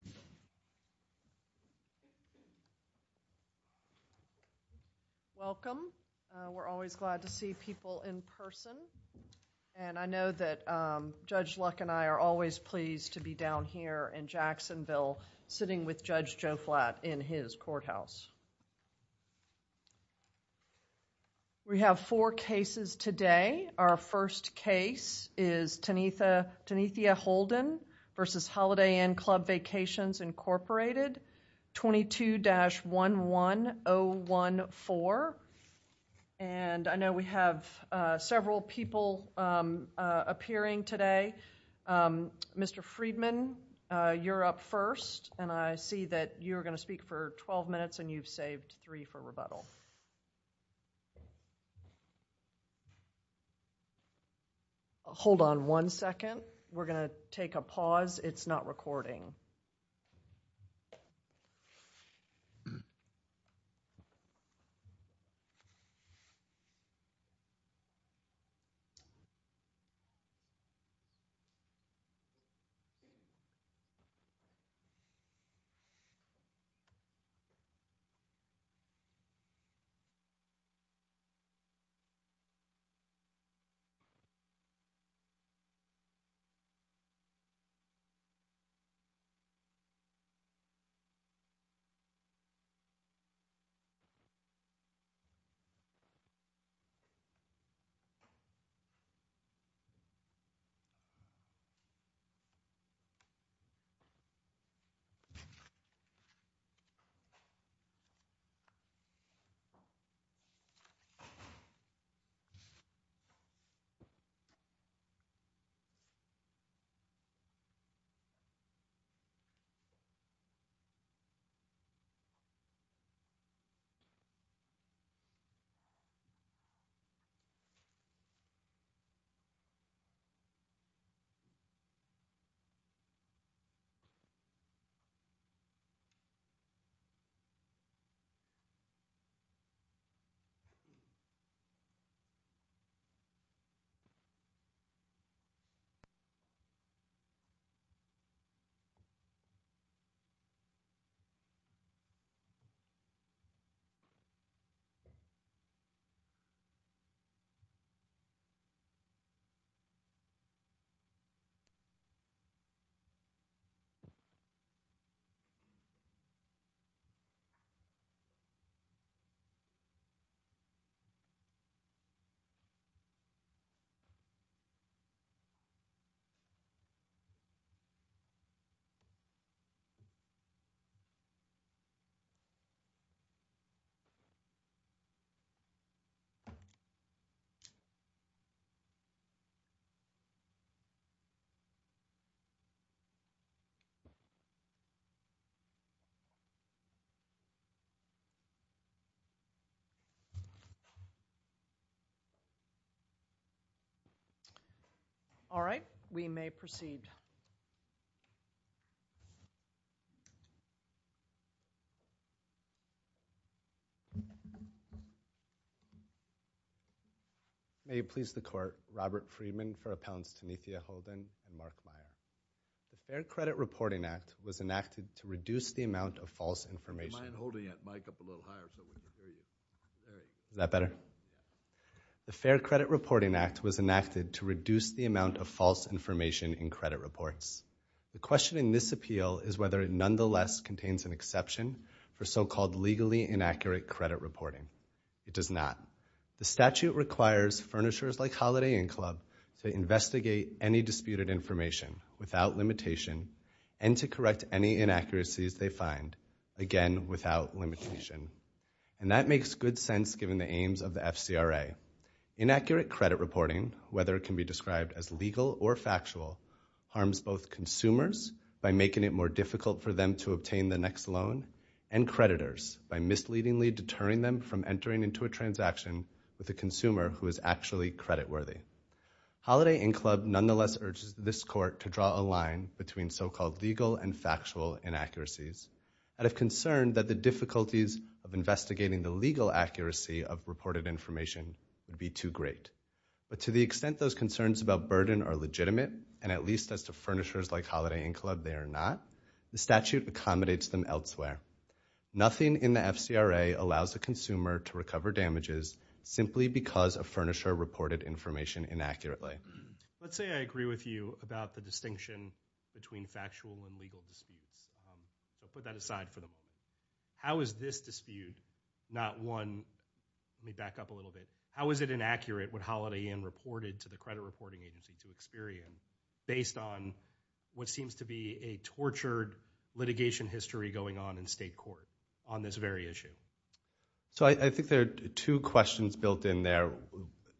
, Mark Mayer v. Holiday Inn Club Vacations Incorporated, Mark Mayer v. Holiday Inn Club Vacations Incorporated, 22-11014. And I know we have several people appearing today. Mr. Friedman, you're up first, and I see that you're going to speak for 12 minutes and you've May it please the Court, Robert Friedman for Appellants Tanethia Holden and Mark Mayer. The Fair Credit Reporting Act was enacted to reduce the amount of false information in credit reports. The question in this appeal is whether it nonetheless contains an exception for so-called legally inaccurate credit reporting. It does not. The statute requires furnishers like Holiday Inn Club to investigate any disputed information without limitation and to correct any inaccuracies they find, again, without limitation. And that makes good sense given the aims of the FCRA. Inaccurate credit reporting, whether it can be described as legal or factual, harms both consumers by making it more difficult for them to obtain the next loan and creditors by misleadingly deterring them from entering into a transaction with a consumer who is actually creditworthy. Holiday Inn Club nonetheless urges this Court to draw a line between so-called legal and factual inaccuracies out of concern that the difficulties of investigating the legal accuracy of reported information would be too great. But to the extent those concerns about burden are legitimate, and at least as to furnishers like Holiday Inn Club, they are not, the statute accommodates them elsewhere. Nothing in the FCRA allows a consumer to recover damages simply because a furnisher reported information inaccurately. Let's say I agree with you about the distinction between factual and legal disputes. I'll put that aside for the moment. How is this dispute not one, let me back up a little bit, how is it inaccurate what Holiday Inn reported to the credit reporting agency to Experian based on what seems to be a tortured litigation history going on in state court on this very issue? So I think there are two questions built in there.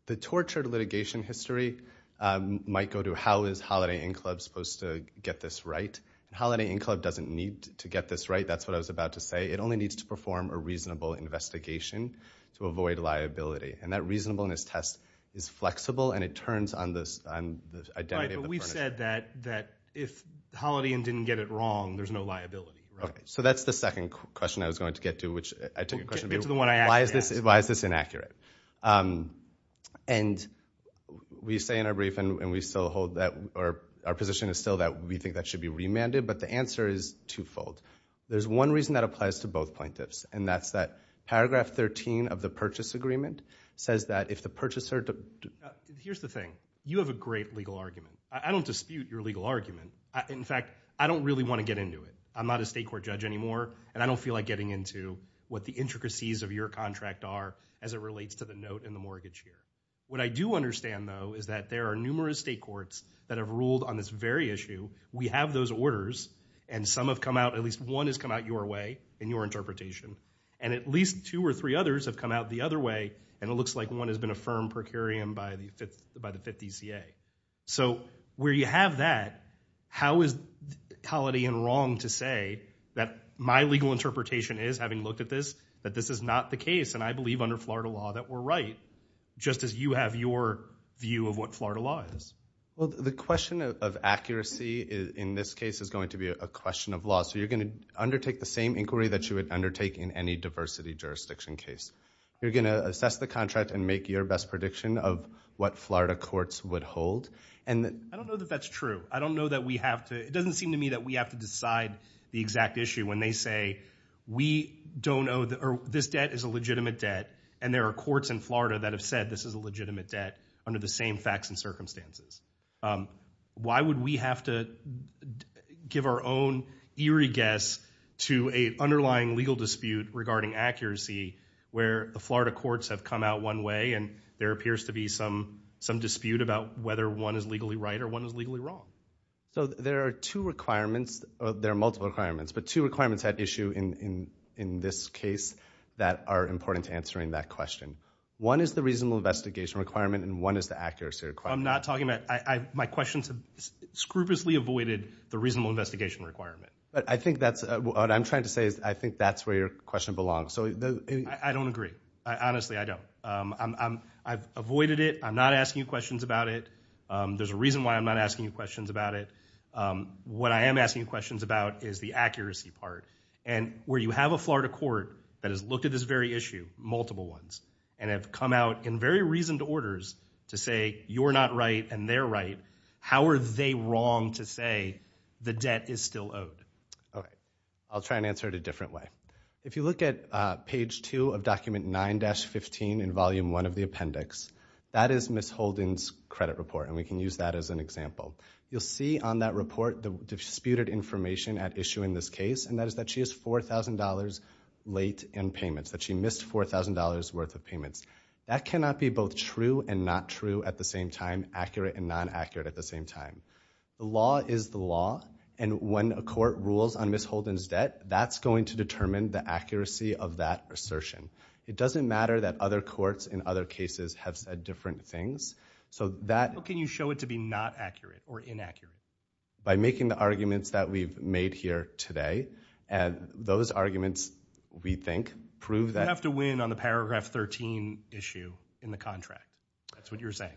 The tortured litigation history might go to how is Holiday Inn Club supposed to get this right. Holiday Inn Club doesn't need to get this right, that's what I was about to say. It only needs to perform a reasonable investigation to avoid liability. And that reasonableness test is flexible and it turns on the identity of the furnisher. Right, but we said that if Holiday Inn didn't get it wrong, there's no liability, right? So that's the second question I was going to get to, which I took a question about why is this inaccurate? And we say in our brief, and we still hold that, or our position is still that we think that should be remanded, but the answer is twofold. There's one reason that applies to both plaintiffs, and that's that paragraph 13 of the purchase agreement says that if the purchaser... Here's the thing, you have a great legal argument. I don't dispute your legal argument. In fact, I don't really want to get into it. I'm not a state court judge anymore, and I don't feel like getting into what the intricacies of your contract are as it relates to the note and the mortgage here. What I do understand though is that there are numerous state courts that have ruled on this very issue. We have those orders, and some have come out, at least one has come out your way in your interpretation, and at least two or three others have come out the other way, and it looks like one has been affirmed per curiam by the 50CA. So where you have that, how is Holiday Inn wrong to say that my legal interpretation is, having looked at this, that this is not the case, and I believe under Florida law that we're right, just as you have your view of what Florida law is. Well, the question of accuracy in this case is going to be a question of law. So you're going to undertake the same inquiry that you would undertake in any diversity jurisdiction case. You're going to assess the contract and make your best prediction of what Florida courts would hold. I don't know that that's true. I don't know that we have to... It doesn't seem to me that we have to decide the exact issue when they say, this debt is a legitimate debt, and there are courts in Florida that have said this is a legitimate debt under the same facts and circumstances. Why would we have to give our own eerie guess to an underlying legal dispute regarding accuracy where the Florida courts have come out one way, and there appears to be some dispute about whether one is legally right or one is legally wrong? So there are two requirements. There are multiple requirements, but two requirements at issue in this case that are important to answering that question. One is the reasonable investigation requirement, and one is the accuracy requirement. I'm not talking about... My questions scrupulously avoided the reasonable investigation requirement. But I think that's... What I'm trying to say is I think that's where your question belongs. I don't agree. Honestly, I don't. I've avoided it. I'm not asking you questions about it. There's a reason why I'm not asking you questions about it. What I am asking you questions about is the accuracy part. And where you have a Florida court that has looked at this very issue, multiple ones, and have come out in very reasoned orders to say you're not right and they're right, how are they wrong to say the debt is still owed? Okay. I'll try and answer it a different way. If you look at page two of document 9-15 in That is Ms. Holden's credit report, and we can use that as an example. You'll see on that report the disputed information at issue in this case, and that is that she is $4,000 late in payments, that she missed $4,000 worth of payments. That cannot be both true and not true at the same time, accurate and non-accurate at the same time. The law is the law, and when a court rules on Ms. Holden's debt, that's going to determine the accuracy of that assertion. It doesn't matter that other courts in other cases have said different things. How can you show it to be not accurate or inaccurate? By making the arguments that we've made here today, and those arguments, we think, prove that- You have to win on the paragraph 13 issue in the contract. That's what you're saying.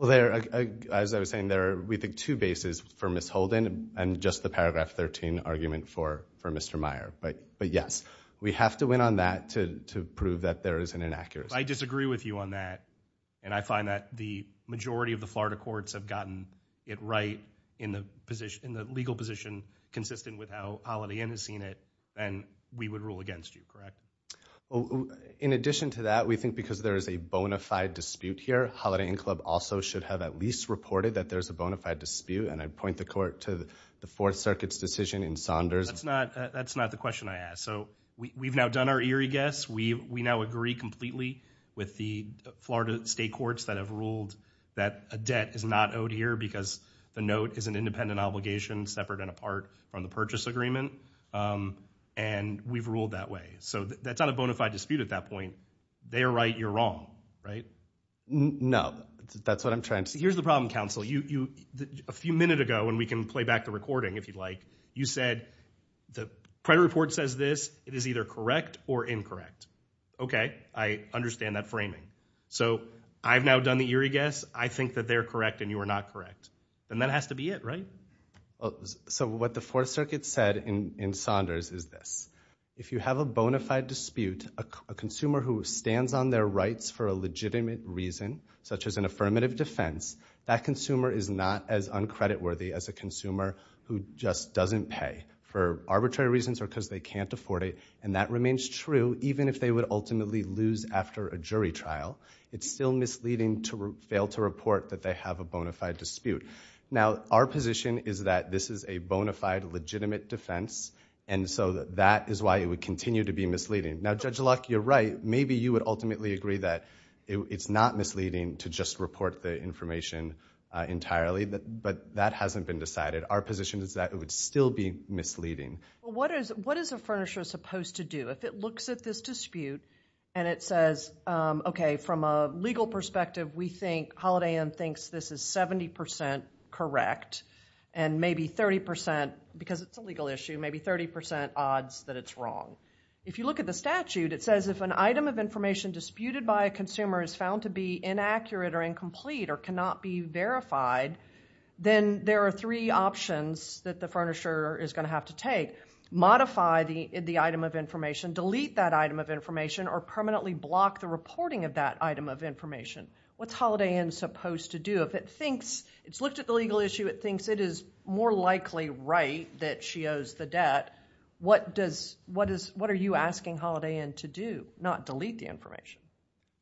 As I was saying, there are, we think, two bases for Ms. Holden and just the paragraph 13 argument for Mr. Meyer, but yes, we have to win on that to prove that there is an inaccuracy. I disagree with you on that, and I find that the majority of the Florida courts have gotten it right in the legal position consistent with how Holiday Inn has seen it, and we would rule against you, correct? In addition to that, we think because there is a bona fide dispute here, Holiday Inn Club also should have at least reported that there's a bona fide dispute, and I point the court to the Fourth Circuit's decision in Saunders. That's not the question I asked. We've now done our eerie guess. We now agree completely with the Florida state courts that have ruled that a debt is not owed here because the note is an independent obligation separate and apart from the purchase agreement, and we've ruled that way. That's not a bona fide dispute at that point. They are right, you're wrong, right? No, that's what I'm trying to say. Here's the problem, counsel. A few minutes ago, and we can play back the recording if you'd like, you said the credit report says this. It is either correct or incorrect. Okay, I understand that framing. I've now done the eerie guess. I think that they're correct and you are not correct, and that has to be it, right? What the Fourth Circuit said in Saunders is this. If you have a bona fide dispute, a consumer who stands on their rights for a legitimate reason, such as an affirmative defense, that consumer is not as uncreditworthy as a consumer who just doesn't pay for arbitrary reasons or because they can't afford it, and that remains true even if they would ultimately lose after a jury trial. It's still misleading to fail to report that they have a bona fide dispute. Now, our position is that this is a bona fide legitimate defense, and so that is why it would continue to be misleading. Now, Judge Luck, you're right. Maybe you would ultimately agree that it's not misleading to just report the information entirely, but that hasn't been decided. Our position is that it would still be misleading. What is a furnisher supposed to do? If it looks at this dispute and it says, okay, from a legal perspective, we think, Holiday Inn thinks this is 70% correct, and maybe 30%, because it's a legal issue, maybe 30% odds that it's wrong. If you look at the statute, it says if an item of information disputed by a consumer is found to be inaccurate or incomplete or cannot be verified, then there are three options that the furnisher is going to have to take. Modify the item of information, delete that item of information, or permanently block the reporting of that item of information. What's Holiday Inn supposed to do? If it thinks it's looked at the legal issue, it thinks it is more likely right that she owes the debt, what are you asking Holiday Inn to do? Not delete the information.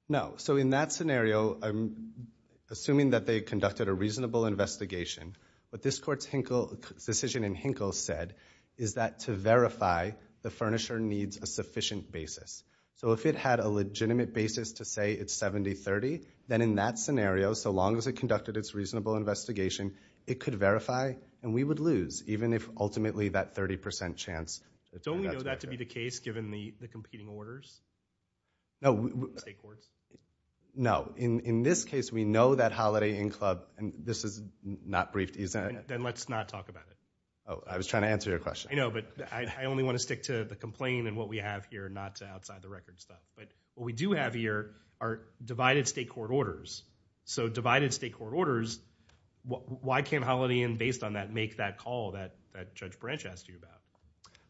No. In that scenario, I'm assuming that they conducted a reasonable investigation. What this court's decision in Hinkle said is that to verify, the furnisher needs a sufficient basis. If it had a legitimate basis to say it's 70-30, then in that scenario, so long as it conducted its reasonable investigation, it could verify, and we would lose, even if ultimately that 30% chance. Don't we know that to be the case, given the competing orders? No. In this case, we know that Holiday Inn Club, and this is not briefed, is it? Then let's not talk about it. I was trying to answer your question. I know, but I only want to stick to the complaint and what we have here, not to outside the records stuff. What we do have here are divided state court orders. Divided state court orders, why can't Holiday Inn, based on that, make that call that Judge Branch asked you about?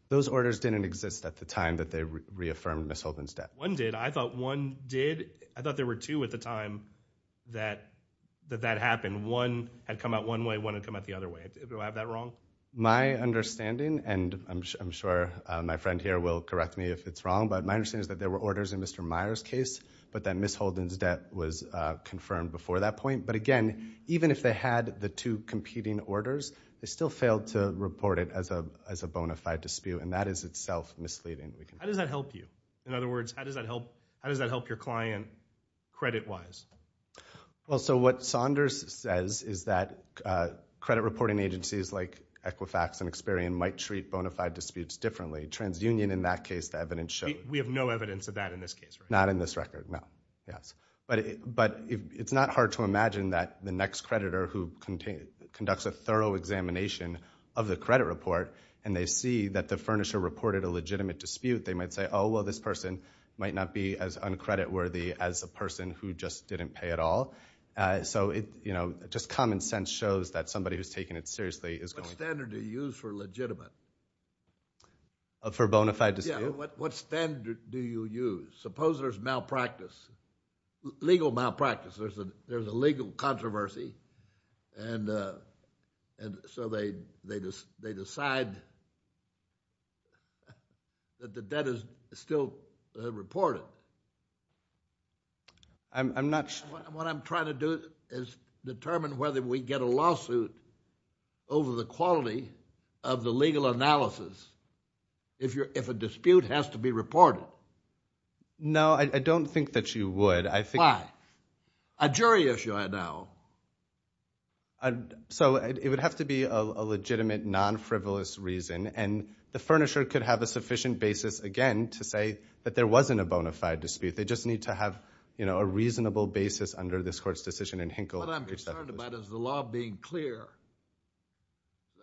Those orders didn't exist at the time that they reaffirmed Ms. Holden's debt. One did. I thought one did. I thought there were two at the time that that happened. One had come out one way, one had come out the other way. Do I have that wrong? My understanding, and I'm sure my friend here will correct me if it's wrong, but my understanding is that there were orders in Mr. Meyer's case, but that Ms. Holden's debt was confirmed before that point. But again, even if they had the two competing orders, they still failed to report it as a bona fide dispute, and that is itself misleading. How does that help you? In other words, how does that help your client credit-wise? What Saunders says is that credit reporting agencies like Equifax and Experian might treat bona fide disputes differently. TransUnion, in that case, the evidence shows. We have no evidence of that in this case, right? Not in this record, no. But it's not hard to imagine that the next creditor who conducts a thorough examination of the credit report, and they see that the furnisher reported a legitimate dispute, they might say, oh, well, this person might not be as uncreditworthy as a person who just didn't pay at all. So just common sense shows that somebody who's taking it seriously is going to- What standard do you use for legitimate? For a bona fide dispute? Yeah, what standard do you use? Suppose there's malpractice, legal malpractice. There's a legal controversy, and so they decide that the debt is still reported. I'm not- What I'm trying to do is determine whether we get a lawsuit over the quality of the legal analysis if a dispute has to be reported. No, I don't think that you would. Why? A jury issue, I know. So it would have to be a legitimate, non-frivolous reason, and the furnisher could have a sufficient basis, again, to say that there wasn't a bona fide dispute. But I'm concerned about is the law being clear,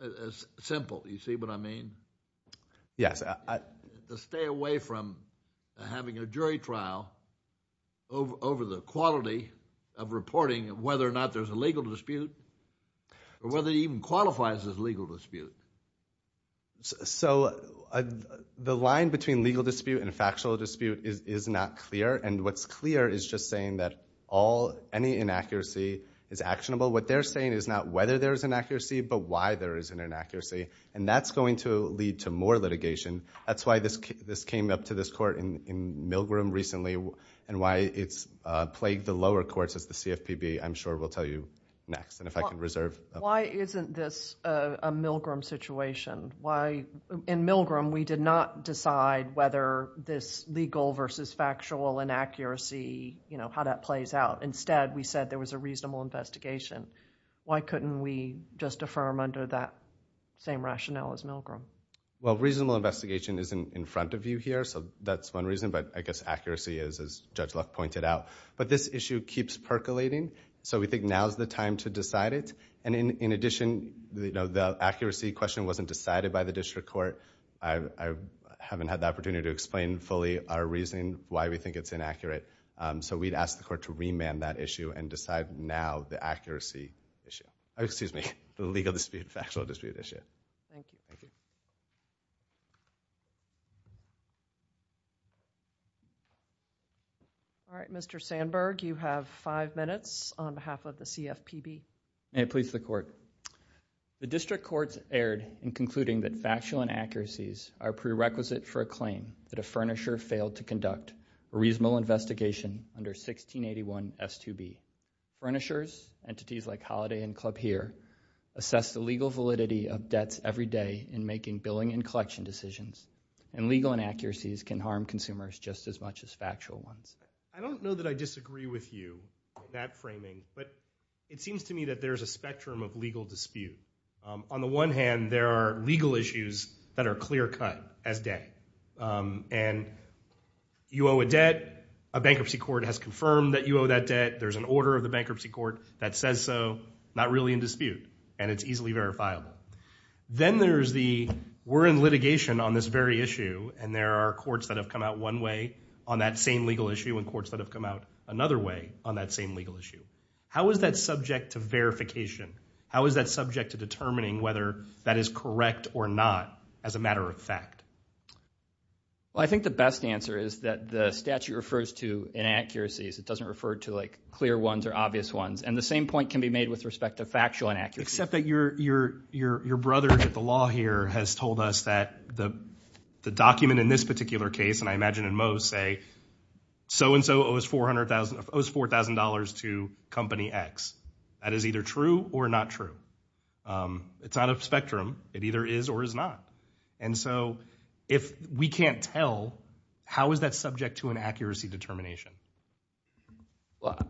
as simple, you see what I mean? Yes. To stay away from having a jury trial over the quality of reporting, whether or not there's a legal dispute, or whether it even qualifies as a legal dispute. So the line between legal dispute and factual dispute is not clear, and what's clear is just saying that any inaccuracy is actionable. What they're saying is not whether there's inaccuracy, but why there is an inaccuracy, and that's going to lead to more litigation. That's why this came up to this court in Milgram recently, and why it's plagued the lower courts as the CFPB, I'm sure we'll tell you next, and if I can reserve- Why isn't this a Milgram situation? In Milgram, we did not decide whether this legal versus factual inaccuracy, how that plays out. Instead, we said there was a reasonable investigation. Why couldn't we just affirm under that same rationale as Milgram? Reasonable investigation isn't in front of you here, so that's one reason, but I guess accuracy is, as Judge Luck pointed out. But this issue keeps percolating, so we think now is the time to decide it. In addition, the accuracy question wasn't decided by the court, which is why we think it's inaccurate, so we'd ask the court to remand that issue and decide now the accuracy issue. Excuse me, the legal dispute, factual dispute issue. Thank you. All right, Mr. Sandberg, you have five minutes on behalf of the CFPB. May it please the court. The district courts erred in concluding that factual inaccuracies are prerequisite for a claim that a furnisher failed to conduct a reasonable investigation under 1681S2B. Furnishers, entities like Holiday and Club Here, assess the legal validity of debts every day in making billing and collection decisions, and legal inaccuracies can harm consumers just as much as factual ones. I don't know that I disagree with you on that framing, but it seems to me that there's a spectrum of legal dispute. On the one hand, there are legal issues that are clear-cut as day, and you owe a debt, a bankruptcy court has confirmed that you owe that debt, there's an order of the bankruptcy court that says so, not really in dispute, and it's easily verifiable. Then there's the, we're in litigation on this very issue, and there are courts that have come out one way on that same legal issue and courts that have come out another way on that same legal issue. How is that subject to verification? How is that subject to determining whether that is correct or not as a matter of fact? I think the best answer is that the statute refers to inaccuracies. It doesn't refer to like clear ones or obvious ones, and the same point can be made with respect to factual inaccuracies. Except that your brother at the law here has told us that the document in this particular case, and I imagine in most, say so-and-so owes $4,000 to company X. That is either true or not true. It's out of spectrum. It either is or is not, and so if we can't tell, how is that subject to an accuracy determination?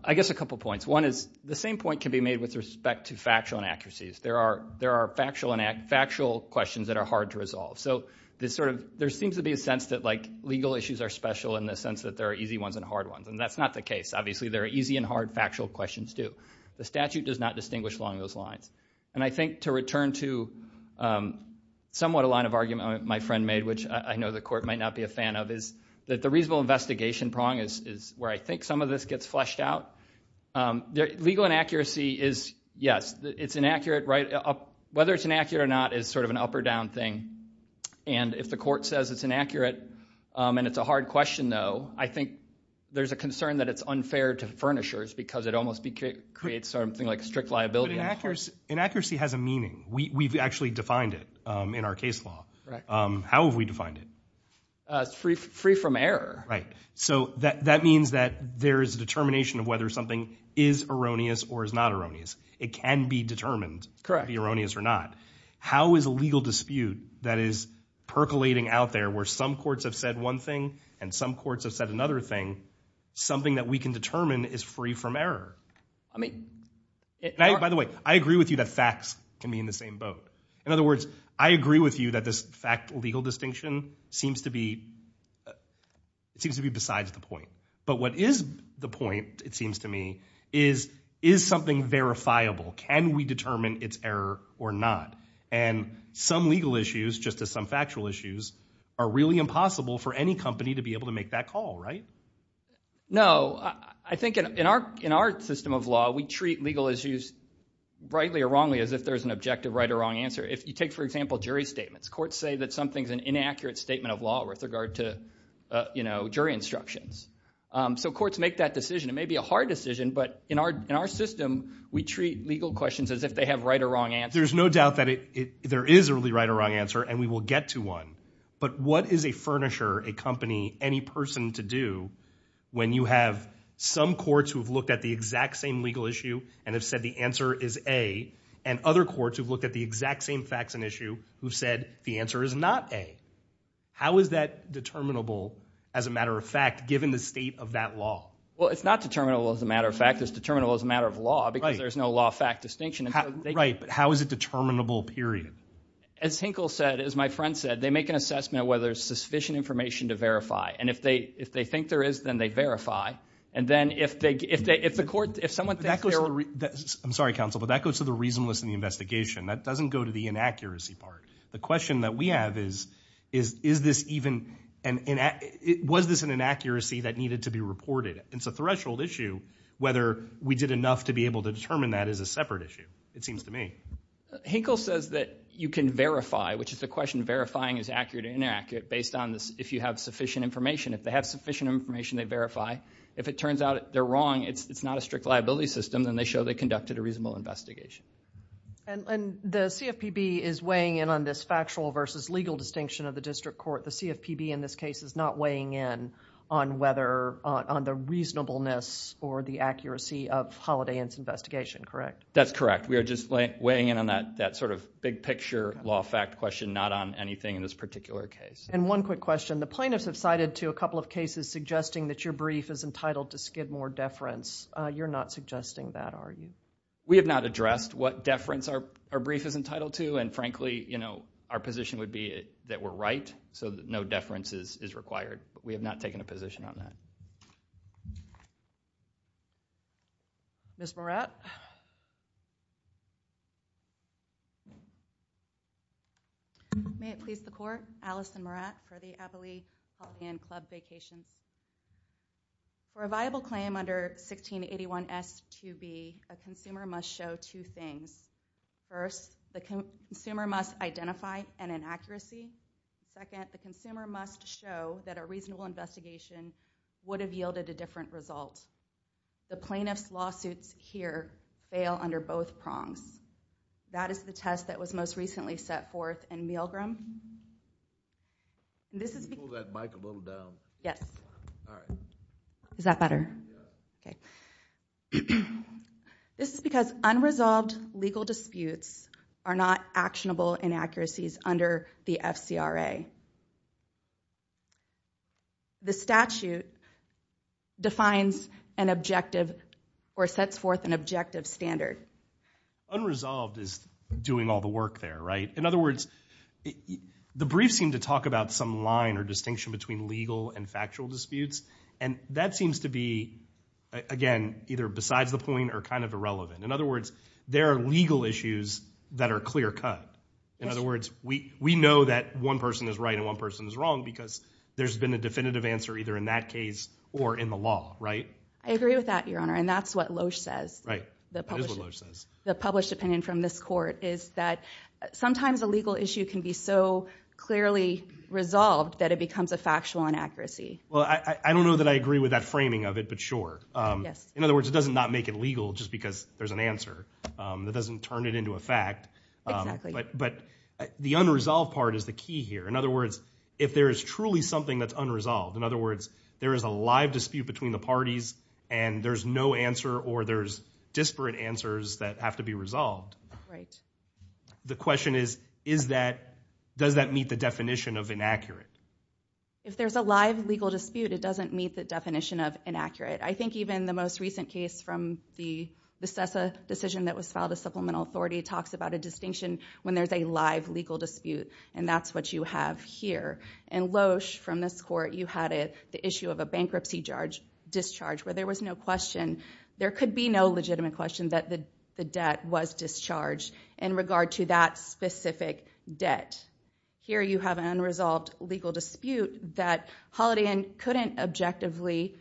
I guess a couple points. One is the same point can be made with respect to factual inaccuracies. There are factual questions that are hard to resolve, so this sort of, there seems to be a sense that like legal issues are special in the sense that there are easy ones and hard ones, and that's not the case. Obviously, there are easy and hard factual questions too. The statute does not distinguish along those lines, and I think to return to somewhat a line of argument my friend made, which I know the court might not be a fan of, is that the reasonable investigation prong is where I think some of this gets fleshed out. Legal inaccuracy is, yes, it's inaccurate, right? Whether it's inaccurate or not is sort of an up or down thing, and if the court says it's inaccurate and it's a hard question though, I think there's a concern that it's unfair to furnishers because it almost creates something like strict liability. Inaccuracy has a meaning. We've actually defined it in our case law. How have we defined it? Free from error. Right, so that means that there is a determination of whether something is erroneous or is not erroneous. It can be determined to be erroneous or not. How is a legal dispute that is percolating out there where some courts have said one thing and some courts have said another thing, something that we can determine is free from error? I mean... By the way, I agree with you that facts can be in the same boat. In other words, I agree with you that this fact legal distinction seems to be besides the point, but what is the point, it seems to me, is something verifiable. Can we determine it's error or not? And some factual issues are really impossible for any company to be able to make that call, right? No, I think in our system of law, we treat legal issues rightly or wrongly as if there's an objective right or wrong answer. If you take, for example, jury statements, courts say that something's an inaccurate statement of law with regard to jury instructions. So courts make that decision. It may be a hard decision, but in our system, we treat legal questions as if they have right or wrong answer. There's no doubt that there is a really right or wrong answer, and we will get to one. But what is a furnisher, a company, any person to do when you have some courts who have looked at the exact same legal issue and have said the answer is A, and other courts who've looked at the exact same facts and issue who've said the answer is not A? How is that determinable as a matter of fact, given the state of that law? Well, it's not determinable as a matter of fact. It's determinable as a matter of law because there's no law fact distinction. Right, but how is it determinable, period? As Hinkle said, as my friend said, they make an assessment of whether there's sufficient information to verify. And if they think there is, then they verify. And then if the court, if someone thinks there are... I'm sorry, counsel, but that goes to the reasonableness in the investigation. That doesn't go to the inaccuracy part. The question that we have is, was this an inaccuracy that needed to be reported? It's a threshold issue whether we did enough to be able to determine that it is a separate issue, it seems to me. Hinkle says that you can verify, which is the question, verifying is accurate or inaccurate based on if you have sufficient information. If they have sufficient information, they verify. If it turns out they're wrong, it's not a strict liability system, then they show they conducted a reasonable investigation. And the CFPB is weighing in on this factual versus legal distinction of the district court. The CFPB in this case is not weighing in on whether, on the reasonableness or the accuracy of Holiday Inn's investigation, correct? That's correct. We are just weighing in on that sort of big picture law fact question, not on anything in this particular case. And one quick question. The plaintiffs have cited to a couple of cases suggesting that your brief is entitled to skid more deference. You're not suggesting that, are you? We have not addressed what deference our brief is entitled to. And frankly, our position would be that we're right, so no deference is required. We have not taken a position on that. Ms. Morat? May it please the Court. Allison Morat, Prodi-Appley Holiday Inn Club Vacation. For a viable claim under 1681S2B, a consumer must show two things. First, the consumer must identify an inaccuracy. Second, the consumer must show that a reasonable investigation would have yielded a different result. The plaintiff's lawsuits here fail under both prongs. That is the test that was most recently set forth in Milgram. Can you move that mic a little down? Yes. All right. Is that better? Yeah. Okay. This is because unresolved legal disputes are not actionable inaccuracies under the objective or sets forth an objective standard. Unresolved is doing all the work there, right? In other words, the brief seemed to talk about some line or distinction between legal and factual disputes, and that seems to be, again, either besides the point or kind of irrelevant. In other words, there are legal issues that are clear-cut. In other words, we know that one person is right and one person is wrong because there's been a definitive answer either in that case or in the law, right? I agree with that, Your Honor, and that's what Loesch says. Right. That is what Loesch says. The published opinion from this court is that sometimes a legal issue can be so clearly resolved that it becomes a factual inaccuracy. Well, I don't know that I agree with that framing of it, but sure. Yes. In other words, it doesn't not make it legal just because there's an answer. That doesn't turn it into a fact. Exactly. But the unresolved part is the key here. In other words, if there is truly something that's unresolved, in other words, there is a live dispute between the parties and there's no answer or there's disparate answers that have to be resolved. Right. The question is, does that meet the definition of inaccurate? If there's a live legal dispute, it doesn't meet the definition of inaccurate. I think even the most recent case from the Vistessa decision that was filed, the Supplemental when there's a live legal dispute, and that's what you have here. In Loesch, from this court, you had the issue of a bankruptcy discharge where there was no question. There could be no legitimate question that the debt was discharged in regard to that specific debt. Here you have an unresolved legal dispute that Holiday Inn couldn't objectively.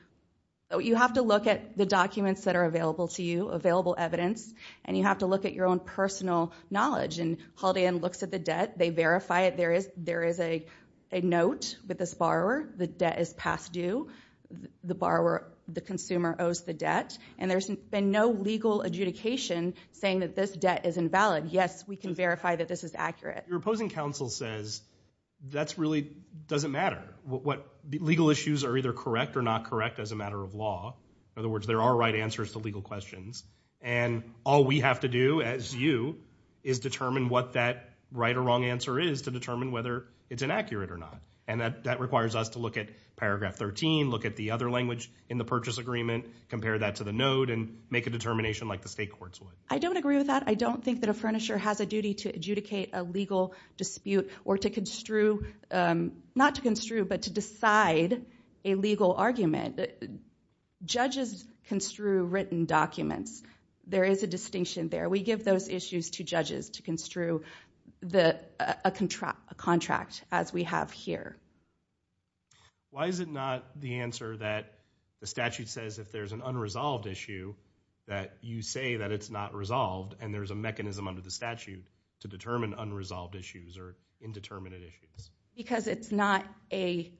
You have to look at the documents that are available to you, available evidence, and you have to look at your own personal knowledge. Holiday Inn looks at the debt. They verify it. There is a note with this borrower. The debt is past due. The borrower, the consumer owes the debt, and there's been no legal adjudication saying that this debt is invalid. Yes, we can verify that this is accurate. Your opposing counsel says that really doesn't matter. Legal issues are either correct or not correct as a matter of law. In other words, there are right answers to legal questions, and all we have to do as you is determine what that right or wrong answer is to determine whether it's inaccurate or not. That requires us to look at paragraph 13, look at the other language in the purchase agreement, compare that to the note, and make a determination like the state courts would. I don't agree with that. I don't think that a furnisher has a duty to adjudicate a legal dispute or to construe, not to construe, but to decide a legal argument. Judges construe written documents. There is a distinction there. We give those issues to judges to construe a contract as we have here. Why is it not the answer that the statute says if there's an unresolved issue that you say that it's not resolved, and there's a mechanism under the statute to determine unresolved issues or indeterminate issues? Because it's not a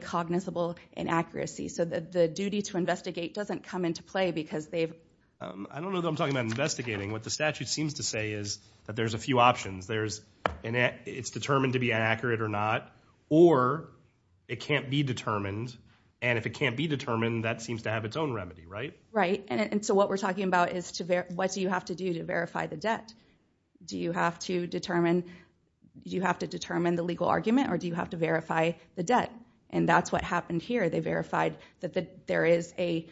cognizable inaccuracy, so the duty to investigate doesn't come into play because they've... I don't know that I'm talking about investigating. What the statute seems to say is that there's a few options. It's determined to be inaccurate or not, or it can't be determined, and if it can't be determined, that seems to have its own remedy, right? Right, and so what we're talking about is what do you have to do to verify the debt? Do you have to determine the legal argument, or do you have to verify the debt? And that's what happened here. They verified that there is a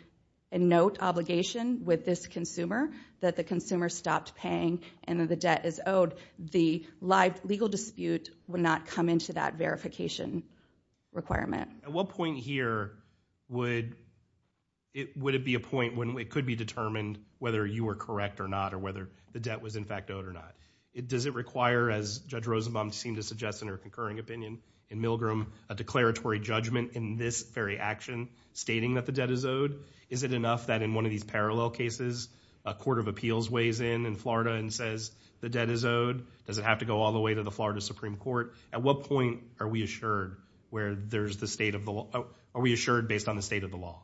note obligation with this consumer that the consumer stopped paying and that the debt is owed. The legal dispute would not come into that verification requirement. At what point here would it be a point when it could be determined whether you were correct or not, or whether the debt was in fact owed or not? Does it require, as Judge Rosenbaum seemed to suggest in her concurring opinion in Milgram, a declaratory judgment in this very action stating that the debt is owed? Is it enough that in one of these parallel cases, a court of appeals weighs in in Florida and says the debt is owed? Does it have to go all the way to the Florida Supreme Court? At what point are we assured where there's the state of the law? Are we assured based on the state of the law?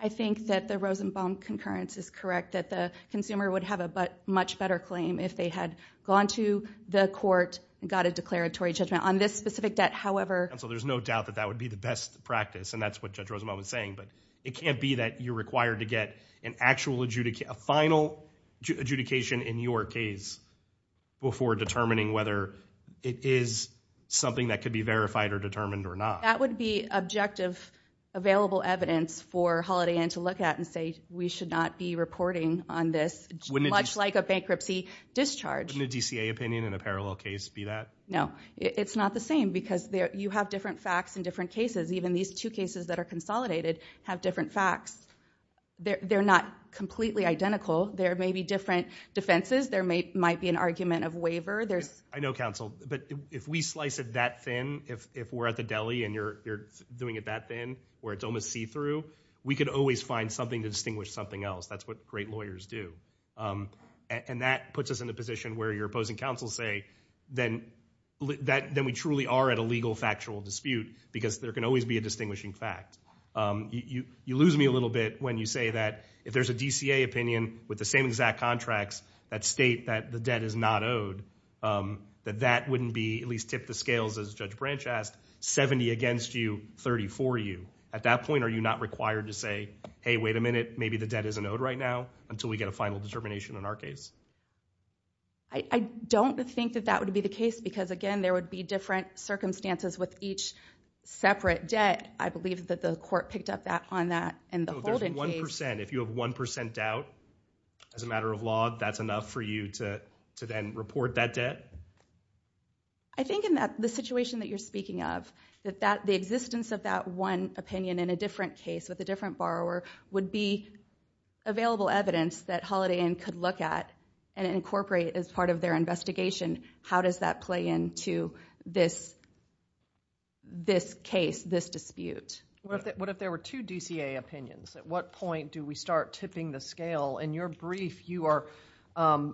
I think that the Rosenbaum concurrence is correct, that the consumer would have a much better claim if they had gone to the court and got a declaratory judgment on this specific debt. However... Counsel, there's no doubt that that would be the best practice, and that's what Judge Rosenbaum was saying, but it can't be that you're required to get an actual final adjudication in your case before determining whether it is something that could be verified or determined or not. That would be objective, available evidence for Holiday Inn to look at and say, we should not be reporting on this, much like a bankruptcy discharge. Wouldn't a DCA opinion in a parallel case be that? No. It's not the same, because you have different facts in different cases. Even these two cases that are consolidated have different facts. They're not completely identical. There may be different defenses. There might be an argument of waiver. I know, Counsel, but if we slice it that thin, if we're at the deli and you're doing it that thin, where it's almost see-through, we could always find something to distinguish something else. That's what great lawyers do. And that puts us in a position where your opposing counsels say, then we truly are at a legal factual dispute, because there can always be a distinguishing fact. You lose me a little bit when you say that if there's a DCA opinion with the same exact contracts that state that the debt is not owed, that that wouldn't be, at least tip the scales, as Judge Branch asked, 70 against you, 30 for you. At that point, are you not required to say, hey, wait a minute, maybe the debt isn't owed right now until we get a final determination in our case? I don't think that that would be the case, because again, there would be different circumstances with each separate debt. I believe that the court picked up on that in the Holden case. If you have 1% doubt as a matter of law, that's enough for you to then report that debt? I think in the situation that you're speaking of, that the existence of that one opinion in a different case with a different borrower would be available evidence that Holiday Inn could look at and incorporate as part of their investigation. How does that play into this case, this dispute? What if there were two DCA opinions? At what point do we start tipping the scale? In your brief, you are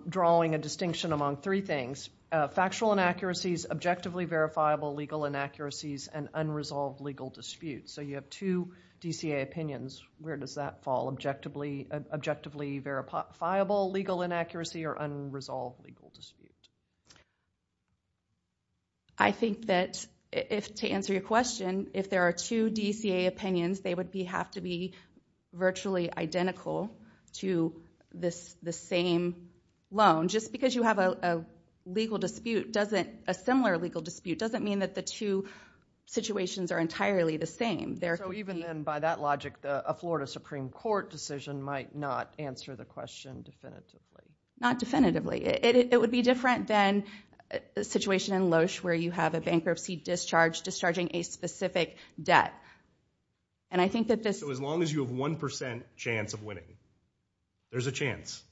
drawing a distinction among three things, factual inaccuracies, objectively verifiable legal inaccuracies, and unresolved legal disputes. You have two DCA opinions. Where does that fall, objectively verifiable legal inaccuracy or unresolved legal dispute? To answer your question, if there are two DCA opinions, they would have to be virtually identical to the same loan. Just because you have a similar legal dispute doesn't mean that the two situations are entirely the same. Even then, by that logic, a Florida Supreme Court decision might not answer the question definitively? Not definitively. It would be different than the situation in Loesch, where you have a bankruptcy discharge discharging a specific debt. And I think that this- So as long as you have 1% chance of winning, there's a chance.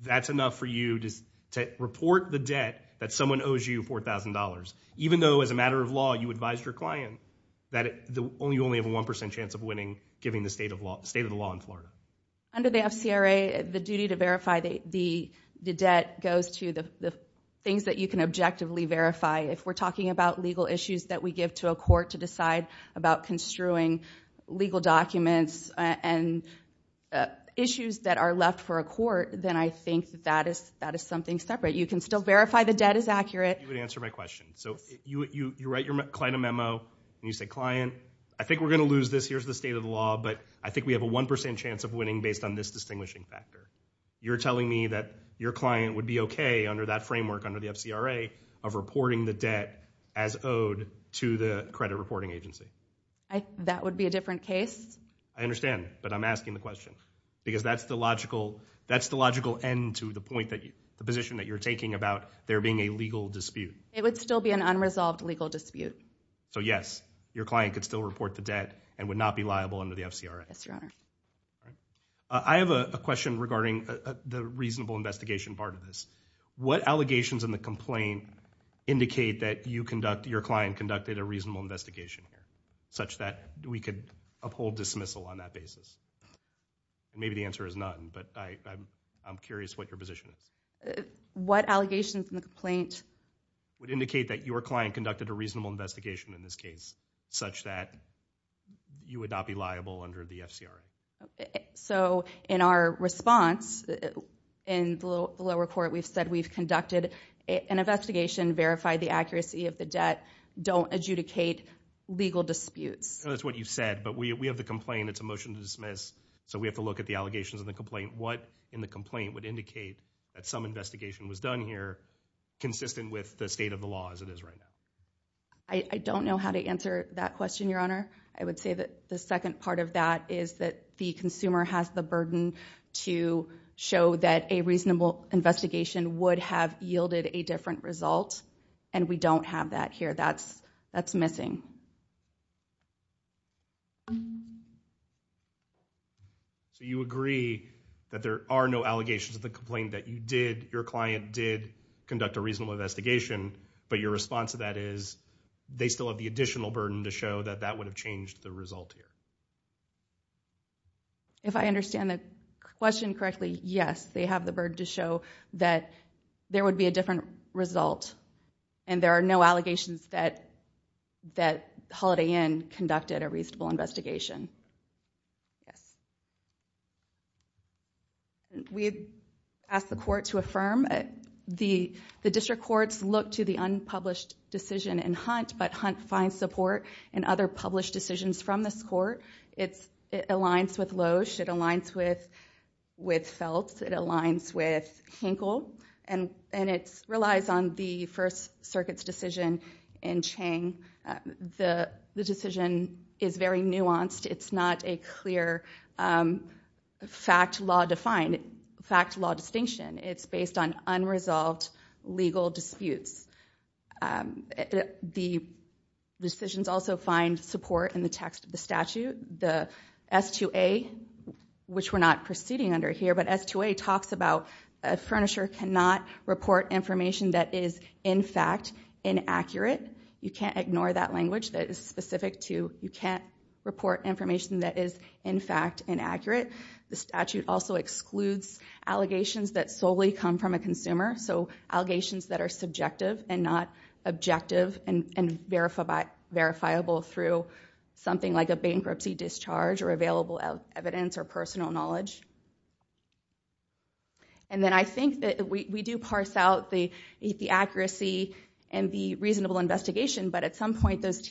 That's enough for you to report the debt that someone owes you $4,000, even though as a matter of law, you advised your client that you only have a 1% chance of winning, given the state of the law in Florida. Under the FCRA, the duty to verify the debt goes to the things that you can objectively verify. If we're talking about legal issues that we give to a court to decide about construing legal documents and issues that are left for a court, then I think that is something separate. You can still verify the debt is accurate. You would answer my question. So you write your client a memo, and you say, client, I think we're going to lose this. Here's the state of the law. But I think we have a 1% chance of winning based on this distinguishing factor. You're telling me that your client would be okay under that framework, under the FCRA, of reporting the debt as owed to the credit reporting agency? That would be a different case. I understand. But I'm asking the question. Because that's the logical end to the point that- the position that you're taking about there being a legal dispute. It would still be an unresolved legal dispute. So yes, your client could still report the debt and would not be liable under the FCRA. Yes, Your Honor. All right. I have a question regarding the reasonable investigation part of this. What allegations in the complaint indicate that you conduct- your client conducted a reasonable investigation here, such that we could uphold dismissal on that basis? Maybe the answer is none, but I'm curious what your position is. What allegations in the complaint- would indicate that your client conducted a reasonable investigation in this case, such that you would not be liable under the FCRA? So in our response, in the lower court, we've said we've conducted an investigation, verified the accuracy of the debt, don't adjudicate legal disputes. No, that's what you said. But we have the complaint. It's a motion to dismiss. So we have to look at the allegations in the complaint. What in the complaint would indicate that some investigation was done here, consistent with the state of the law as it is right now? I don't know how to answer that question, Your Honor. I would say that the second part of that is that the consumer has the burden to show that a reasonable investigation would have yielded a different result, and we don't have that here. That's missing. So you agree that there are no allegations in the complaint that you did- your client did conduct a reasonable investigation, but your response to that is they still have the additional burden to show that that would have changed the result here. If I understand the question correctly, yes, they have the burden to show that there would be a different result, and there are no allegations that Holiday Inn conducted a reasonable investigation. Yes. We have asked the court to affirm. The district courts look to the unpublished decision in Hunt, but Hunt finds support in other published decisions from this court. It aligns with Loesch. It aligns with Feltz. It aligns with Hinkle, and it relies on the First Circuit's decision in Chang. The decision is very nuanced. It's not a clear fact-law distinction. It's based on unresolved legal disputes. The decisions also find support in the text of the statute. The S-2A, which we're not proceeding under here, but S-2A talks about a furniture cannot report information that is, in fact, inaccurate. You can't ignore that language that is specific to you can't report information that is, in fact, inaccurate. The statute also excludes allegations that solely come from a consumer, so allegations that are subjective and not objective and verifiable through something like a bankruptcy discharge or available evidence or personal knowledge. Then I think that we do parse out the accuracy and the reasonable investigation, but at some point, those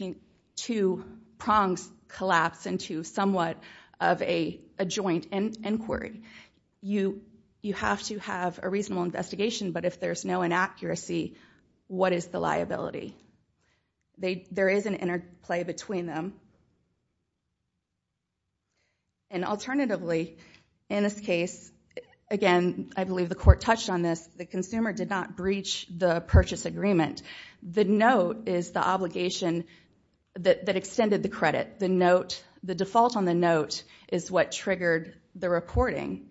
two prongs collapse into somewhat of a joint inquiry. You have to have a reasonable investigation, but if there's no inaccuracy, what is the liability? There is an interplay between them, and alternatively, if there's no inaccuracy, what is the liability? In this case, again, I believe the court touched on this. The consumer did not breach the purchase agreement. The note is the obligation that extended the credit. The default on the note is what triggered the reporting,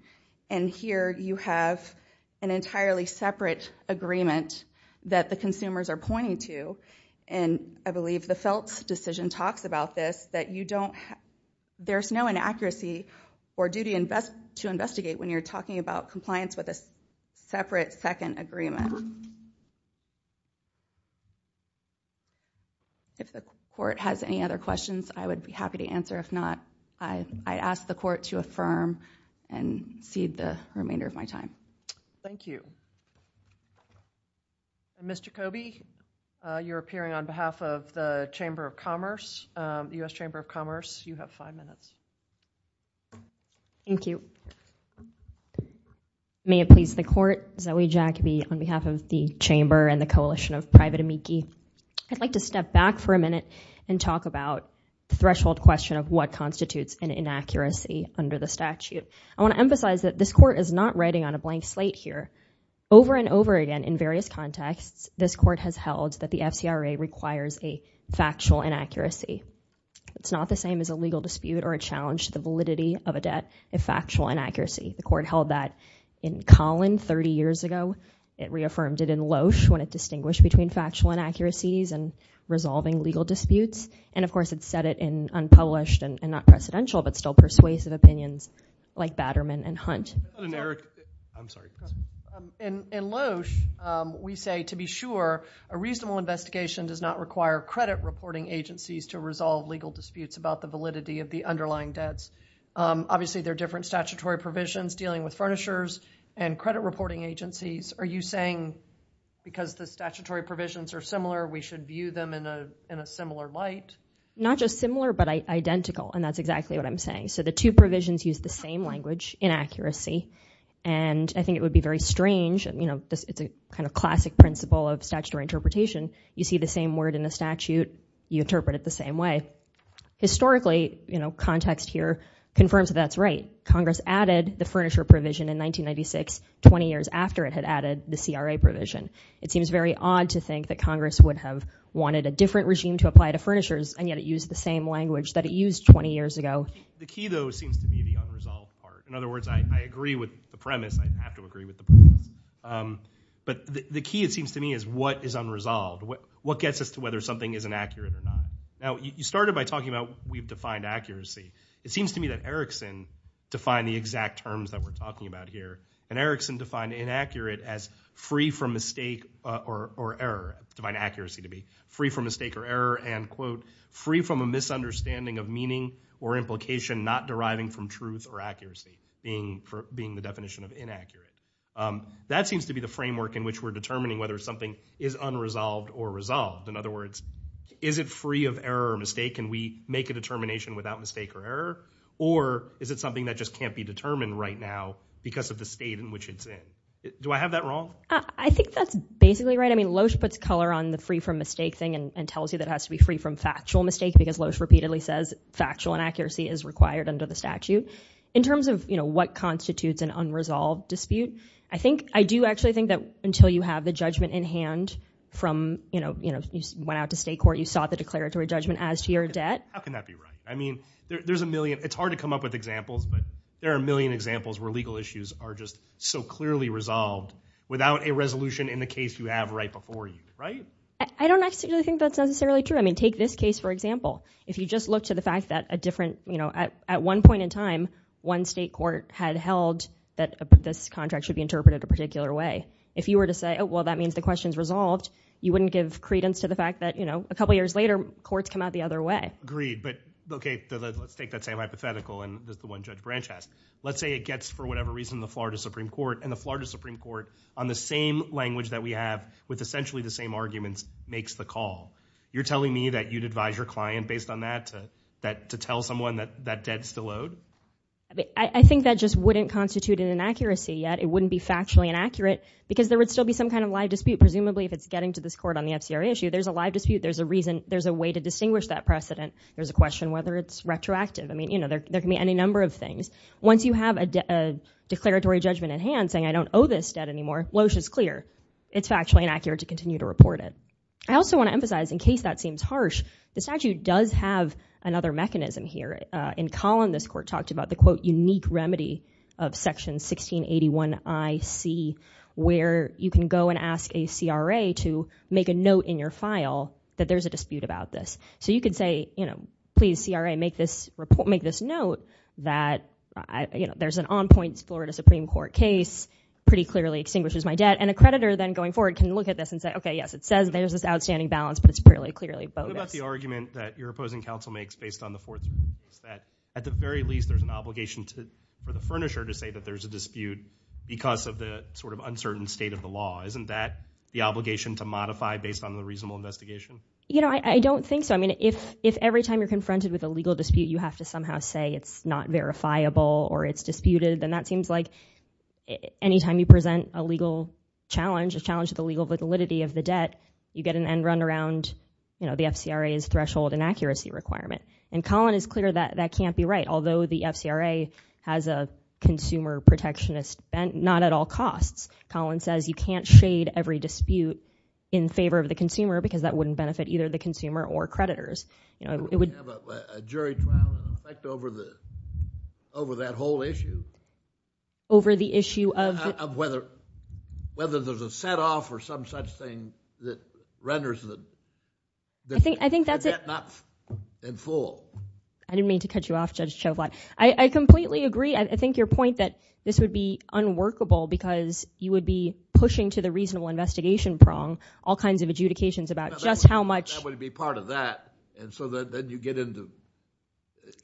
and here you have an entirely separate agreement that the consumers are pointing to, and I believe the Feltz decision talks about this, that there's no inaccuracy or duty to investigate when you're talking about compliance with a separate second agreement. If the court has any other questions, I would be happy to answer. If not, I ask the court to affirm and cede the remainder of my time. Thank you. Ms. Jacoby, you're appearing on behalf of the U.S. Chamber of Commerce. You have five minutes. Thank you. May it please the Court, Zoe Jacoby on behalf of the Chamber and the Coalition of Private Amici. I'd like to step back for a minute and talk about the threshold question of what constitutes an inaccuracy under the statute. I want to emphasize that this Court is not writing on a blank slate here. Over and over again in various contexts, this Court has held that the FCRA requires a factual inaccuracy. It's not the same as a legal dispute or a challenge to the validity of a debt if factual inaccuracy. The Court held that in Collin 30 years ago. It reaffirmed it in Loesch when it distinguished between factual inaccuracies and resolving legal disputes, and of course it said it in unpublished and not precedential but still like Batterman and Hunt. In Loesch, we say to be sure a reasonable investigation does not require credit reporting agencies to resolve legal disputes about the validity of the underlying debts. Obviously, there are different statutory provisions dealing with furnishers and credit reporting agencies. Are you saying because the statutory provisions are similar, we should view them in a similar light? Not just similar but identical, and that's exactly what I'm saying. The two provisions use the same language, inaccuracy, and I think it would be very strange. It's a kind of classic principle of statutory interpretation. You see the same word in the statute, you interpret it the same way. Historically, context here confirms that that's right. Congress added the furniture provision in 1996, 20 years after it had added the CRA provision. It seems very odd to think that Congress would have wanted a different regime to apply to furnishers and yet it used the same language that it used 20 years ago. The key, though, seems to be the unresolved part. In other words, I agree with the premise, I have to agree with the premise, but the key, it seems to me, is what is unresolved? What gets us to whether something is inaccurate or not? Now, you started by talking about we've defined accuracy. It seems to me that Erickson defined the exact terms that we're talking about here, and Erickson defined inaccurate as free from mistake or error, defined accuracy to be free from mistake or error, and, quote, free from a misunderstanding of meaning or implication not deriving from truth or accuracy, being the definition of inaccurate. That seems to be the framework in which we're determining whether something is unresolved or resolved. In other words, is it free of error or mistake and we make a determination without mistake or error, or is it something that just can't be determined right now because of the state in which it's in? Do I have that wrong? I think that's basically right. I mean, Loesch puts color on the free from mistake thing and tells you that it has to be free from factual mistake because Loesch repeatedly says factual inaccuracy is required under the statute. In terms of what constitutes an unresolved dispute, I do actually think that until you have the judgment in hand from, you know, you went out to state court, you sought the declaratory judgment as to your debt. How can that be right? I mean, there's a million, it's hard to come up with examples, but there are a million examples where legal issues are just so clearly resolved without a resolution in the case you have right before you, right? I don't actually think that's necessarily true. I mean, take this case, for example. If you just look to the fact that a different, you know, at one point in time, one state court had held that this contract should be interpreted a particular way. If you were to say, oh, well, that means the question's resolved, you wouldn't give credence to the fact that, you know, a couple of years later, courts come out the other way. Agreed, but okay, let's take that same hypothetical and the one Judge Branch has. Let's say it gets, for whatever reason, the Florida Supreme Court and the Florida Supreme Court on the same language that we have, with essentially the same arguments, makes the call. You're telling me that you'd advise your client based on that to tell someone that debt's still owed? I think that just wouldn't constitute an inaccuracy yet. It wouldn't be factually inaccurate because there would still be some kind of live dispute. Presumably, if it's getting to this court on the FCRA issue, there's a live dispute. There's a reason. There's a way to distinguish that precedent. There's a question whether it's retroactive. I mean, you know, there can be any number of things. Once you have a declaratory judgment in hand, saying, I don't owe this debt anymore, Loesh is clear. It's factually inaccurate to continue to report it. I also want to emphasize, in case that seems harsh, the statute does have another mechanism here. In Collin, this court talked about the, quote, unique remedy of Section 1681IC, where you can go and ask a CRA to make a note in your file that there's a dispute about this. So you could say, you know, please, CRA, make this note that, you know, there's an on-point Florida Supreme Court case. Pretty clearly extinguishes my debt. And a creditor, then, going forward, can look at this and say, okay, yes, it says there's this outstanding balance, but it's really clearly bogus. What about the argument that your opposing counsel makes based on the Fourth Amendment is that, at the very least, there's an obligation for the furnisher to say that there's a dispute because of the sort of uncertain state of the law. Isn't that the obligation to modify based on the reasonable investigation? You know, I don't think so. I mean, if every time you're confronted with a legal dispute, you have to somehow say it's not verifiable or it's disputed, then that seems like any time you present a legal challenge, a challenge to the legal validity of the debt, you get an end run around, you know, the FCRA's threshold inaccuracy requirement. And Collin is clear that that can't be right, although the FCRA has a consumer protectionist bent, not at all costs. Collin says you can't shade every dispute in favor of the consumer because that wouldn't benefit either the consumer or creditors. It would have a jury trial effect over that whole issue. Over the issue of whether there's a set off or some such thing that renders the debt not in full. I didn't mean to cut you off, Judge Chauvat. I completely agree. I think your point that this would be unworkable because you would be pushing to the reasonable investigation prong all kinds of adjudications about just how much. That would be part of that, and so then you get into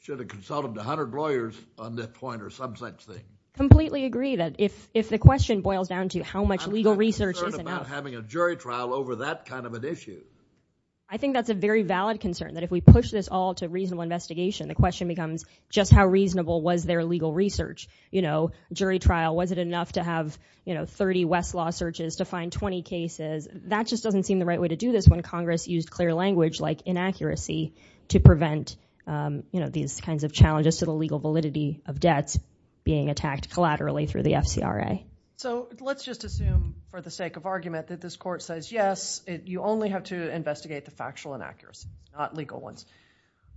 should have consulted a hundred lawyers on that point or some such thing. Completely agree that if the question boils down to how much legal research is enough. I'm not concerned about having a jury trial over that kind of an issue. I think that's a very valid concern, that if we push this all to reasonable investigation, the question becomes just how reasonable was their legal research, you know, jury trial, was it enough to have 30 Westlaw searches to find 20 cases? That just doesn't seem the right way to do this when Congress used clear language like inaccuracy to prevent these kinds of challenges to the legal validity of debts being attacked collaterally through the FCRA. So let's just assume for the sake of argument that this court says, yes, you only have to investigate the factual inaccuracy, not legal ones.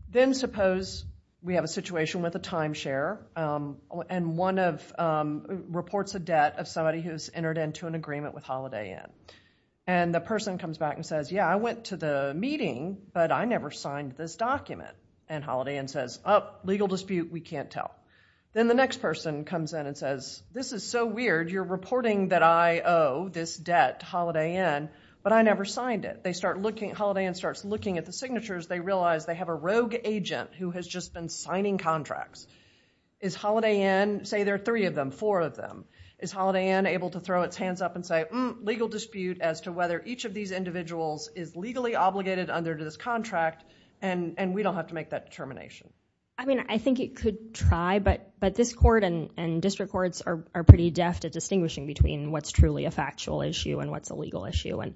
Then suppose we have a situation with a timeshare and one reports a debt of somebody who's entered into an agreement with Holiday Inn. And the person comes back and says, yeah, I went to the meeting, but I never signed this document, and Holiday Inn says, oh, legal dispute, we can't tell. Then the next person comes in and says, this is so weird, you're reporting that I owe this debt to Holiday Inn, but I never signed it. They start looking, Holiday Inn starts looking at the signatures, they realize they have a rogue agent who has just been signing contracts. Is Holiday Inn, say there are three of them, four of them, is Holiday Inn able to throw its hands up and say, hmm, legal dispute as to whether each of these individuals is legally obligated under this contract, and we don't have to make that determination? I mean, I think it could try, but this court and district courts are pretty deft at distinguishing between what's truly a factual issue and what's a legal issue. And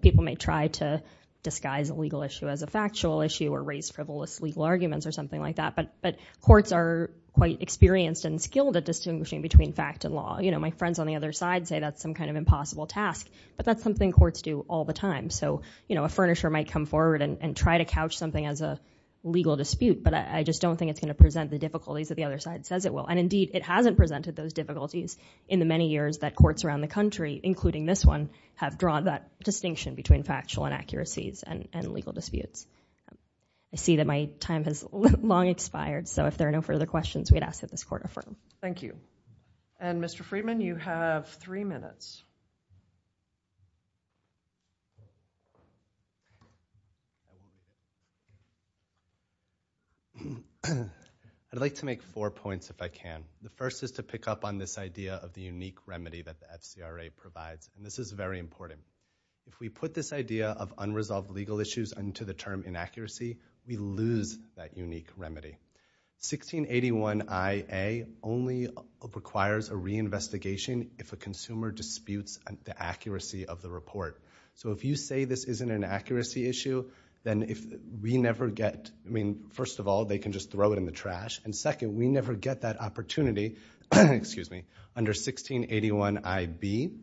people may try to disguise a legal issue as a factual issue or raise frivolous legal arguments or something like that, but courts are quite experienced and skilled at distinguishing between fact and law. My friends on the other side say that's some kind of impossible task, but that's something courts do all the time. So a furnisher might come forward and try to couch something as a legal dispute, but I just don't think it's going to present the difficulties that the other side says it will. And indeed, it hasn't presented those difficulties in the many years that courts around the country, including this one, have drawn that distinction between factual inaccuracies and legal disputes. I see that my time has long expired, so if there are no further questions, we'd ask that this court affirm. Thank you. And, Mr. Friedman, you have three minutes. I'd like to make four points, if I can. The first is to pick up on this idea of the unique remedy that the FCRA provides, and this is very important. If we put this idea of unresolved legal issues into the term inaccuracy, we lose that unique remedy. 1681IA only requires a reinvestigation if a consumer disputes the accuracy of the report. So if you say this isn't an accuracy issue, then if we never get, I mean, first of all, they can just throw it in the trash, and second, we never get that opportunity under 1681IB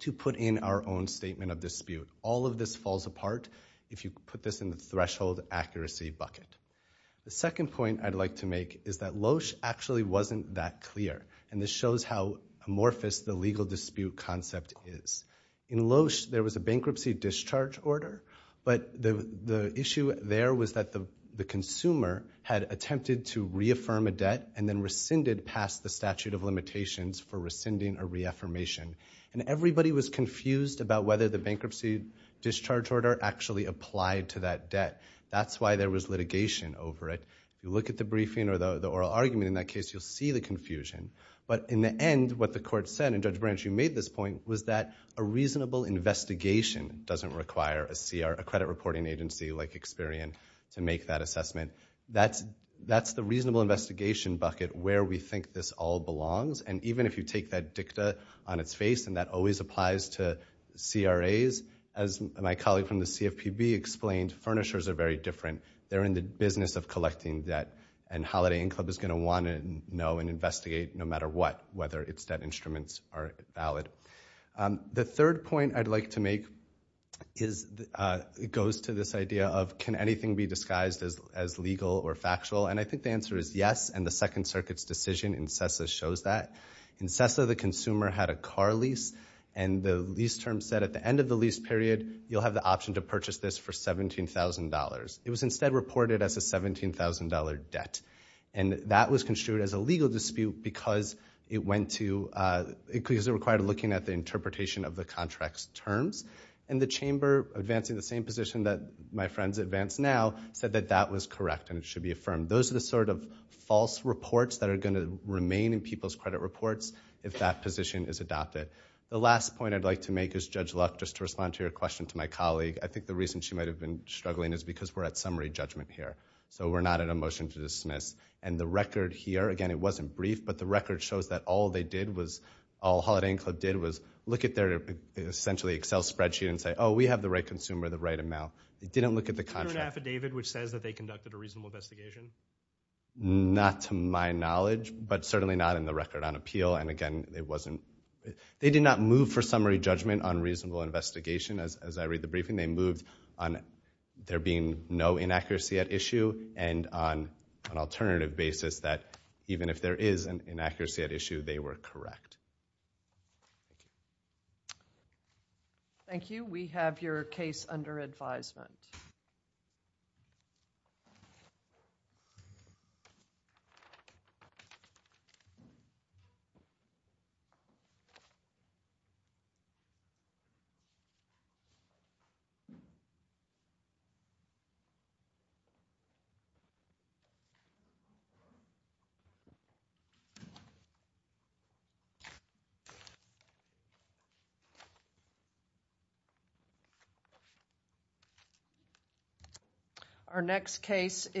to put in our own statement of dispute. All of this falls apart if you put this in the threshold accuracy bucket. The second point I'd like to make is that Loesch actually wasn't that clear, and this shows how amorphous the legal dispute concept is. In Loesch, there was a bankruptcy discharge order, but the issue there was that the consumer had attempted to reaffirm a debt and then rescinded past the statute of limitations for rescinding a reaffirmation, and everybody was confused about whether the bankruptcy discharge order actually applied to that debt. That's why there was litigation over it. You look at the briefing or the oral argument in that case, you'll see the confusion, but in the end, what the court said, and Judge Branch, you made this point, was that a reasonable investigation doesn't require a credit reporting agency like Experian to make that assessment. That's the reasonable investigation bucket where we think this all belongs, and even if you take that dicta on its face and that always applies to CRAs, as my colleague from the CFPB explained, furnishers are very different. They're in the business of collecting debt, and Holiday Inn Club is going to want to know and investigate, no matter what, whether its debt instruments are valid. The third point I'd like to make goes to this idea of can anything be disguised as legal or factual, and I think the answer is yes, and the Second Circuit's decision in CESA shows that. In CESA, the consumer had a car lease, and the lease term said at the end of the lease period, you'll have the option to purchase this for $17,000. It was instead reported as a $17,000 debt, and that was construed as a legal dispute because it required looking at the interpretation of the contract's terms, and the chamber advancing the same position that my friends advance now said that that was correct and it should be affirmed. Those are the sort of false reports that are going to remain in people's credit reports if that position is adopted. The last point I'd like to make is Judge Luck, just to respond to your question to my colleague. I think the reason she might have been struggling is because we're at summary judgment here, so we're not at a motion to dismiss, and the record here, again, it wasn't brief, but the record shows that all they did was, all Holiday Inn Club did was look at their essentially Excel spreadsheet and say, oh, we have the right consumer, the right amount. They didn't look at the contract. Is there an affidavit which says that they conducted a reasonable investigation? Not to my knowledge, but certainly not in the record on appeal, and again, it wasn't – they did not move for summary judgment on reasonable investigation. As I read the briefing, they moved on there being no inaccuracy at issue and on an alternative basis that even if there is an inaccuracy at issue, they were correct. Thank you. We have your case under advisement. Thank you. Our next case is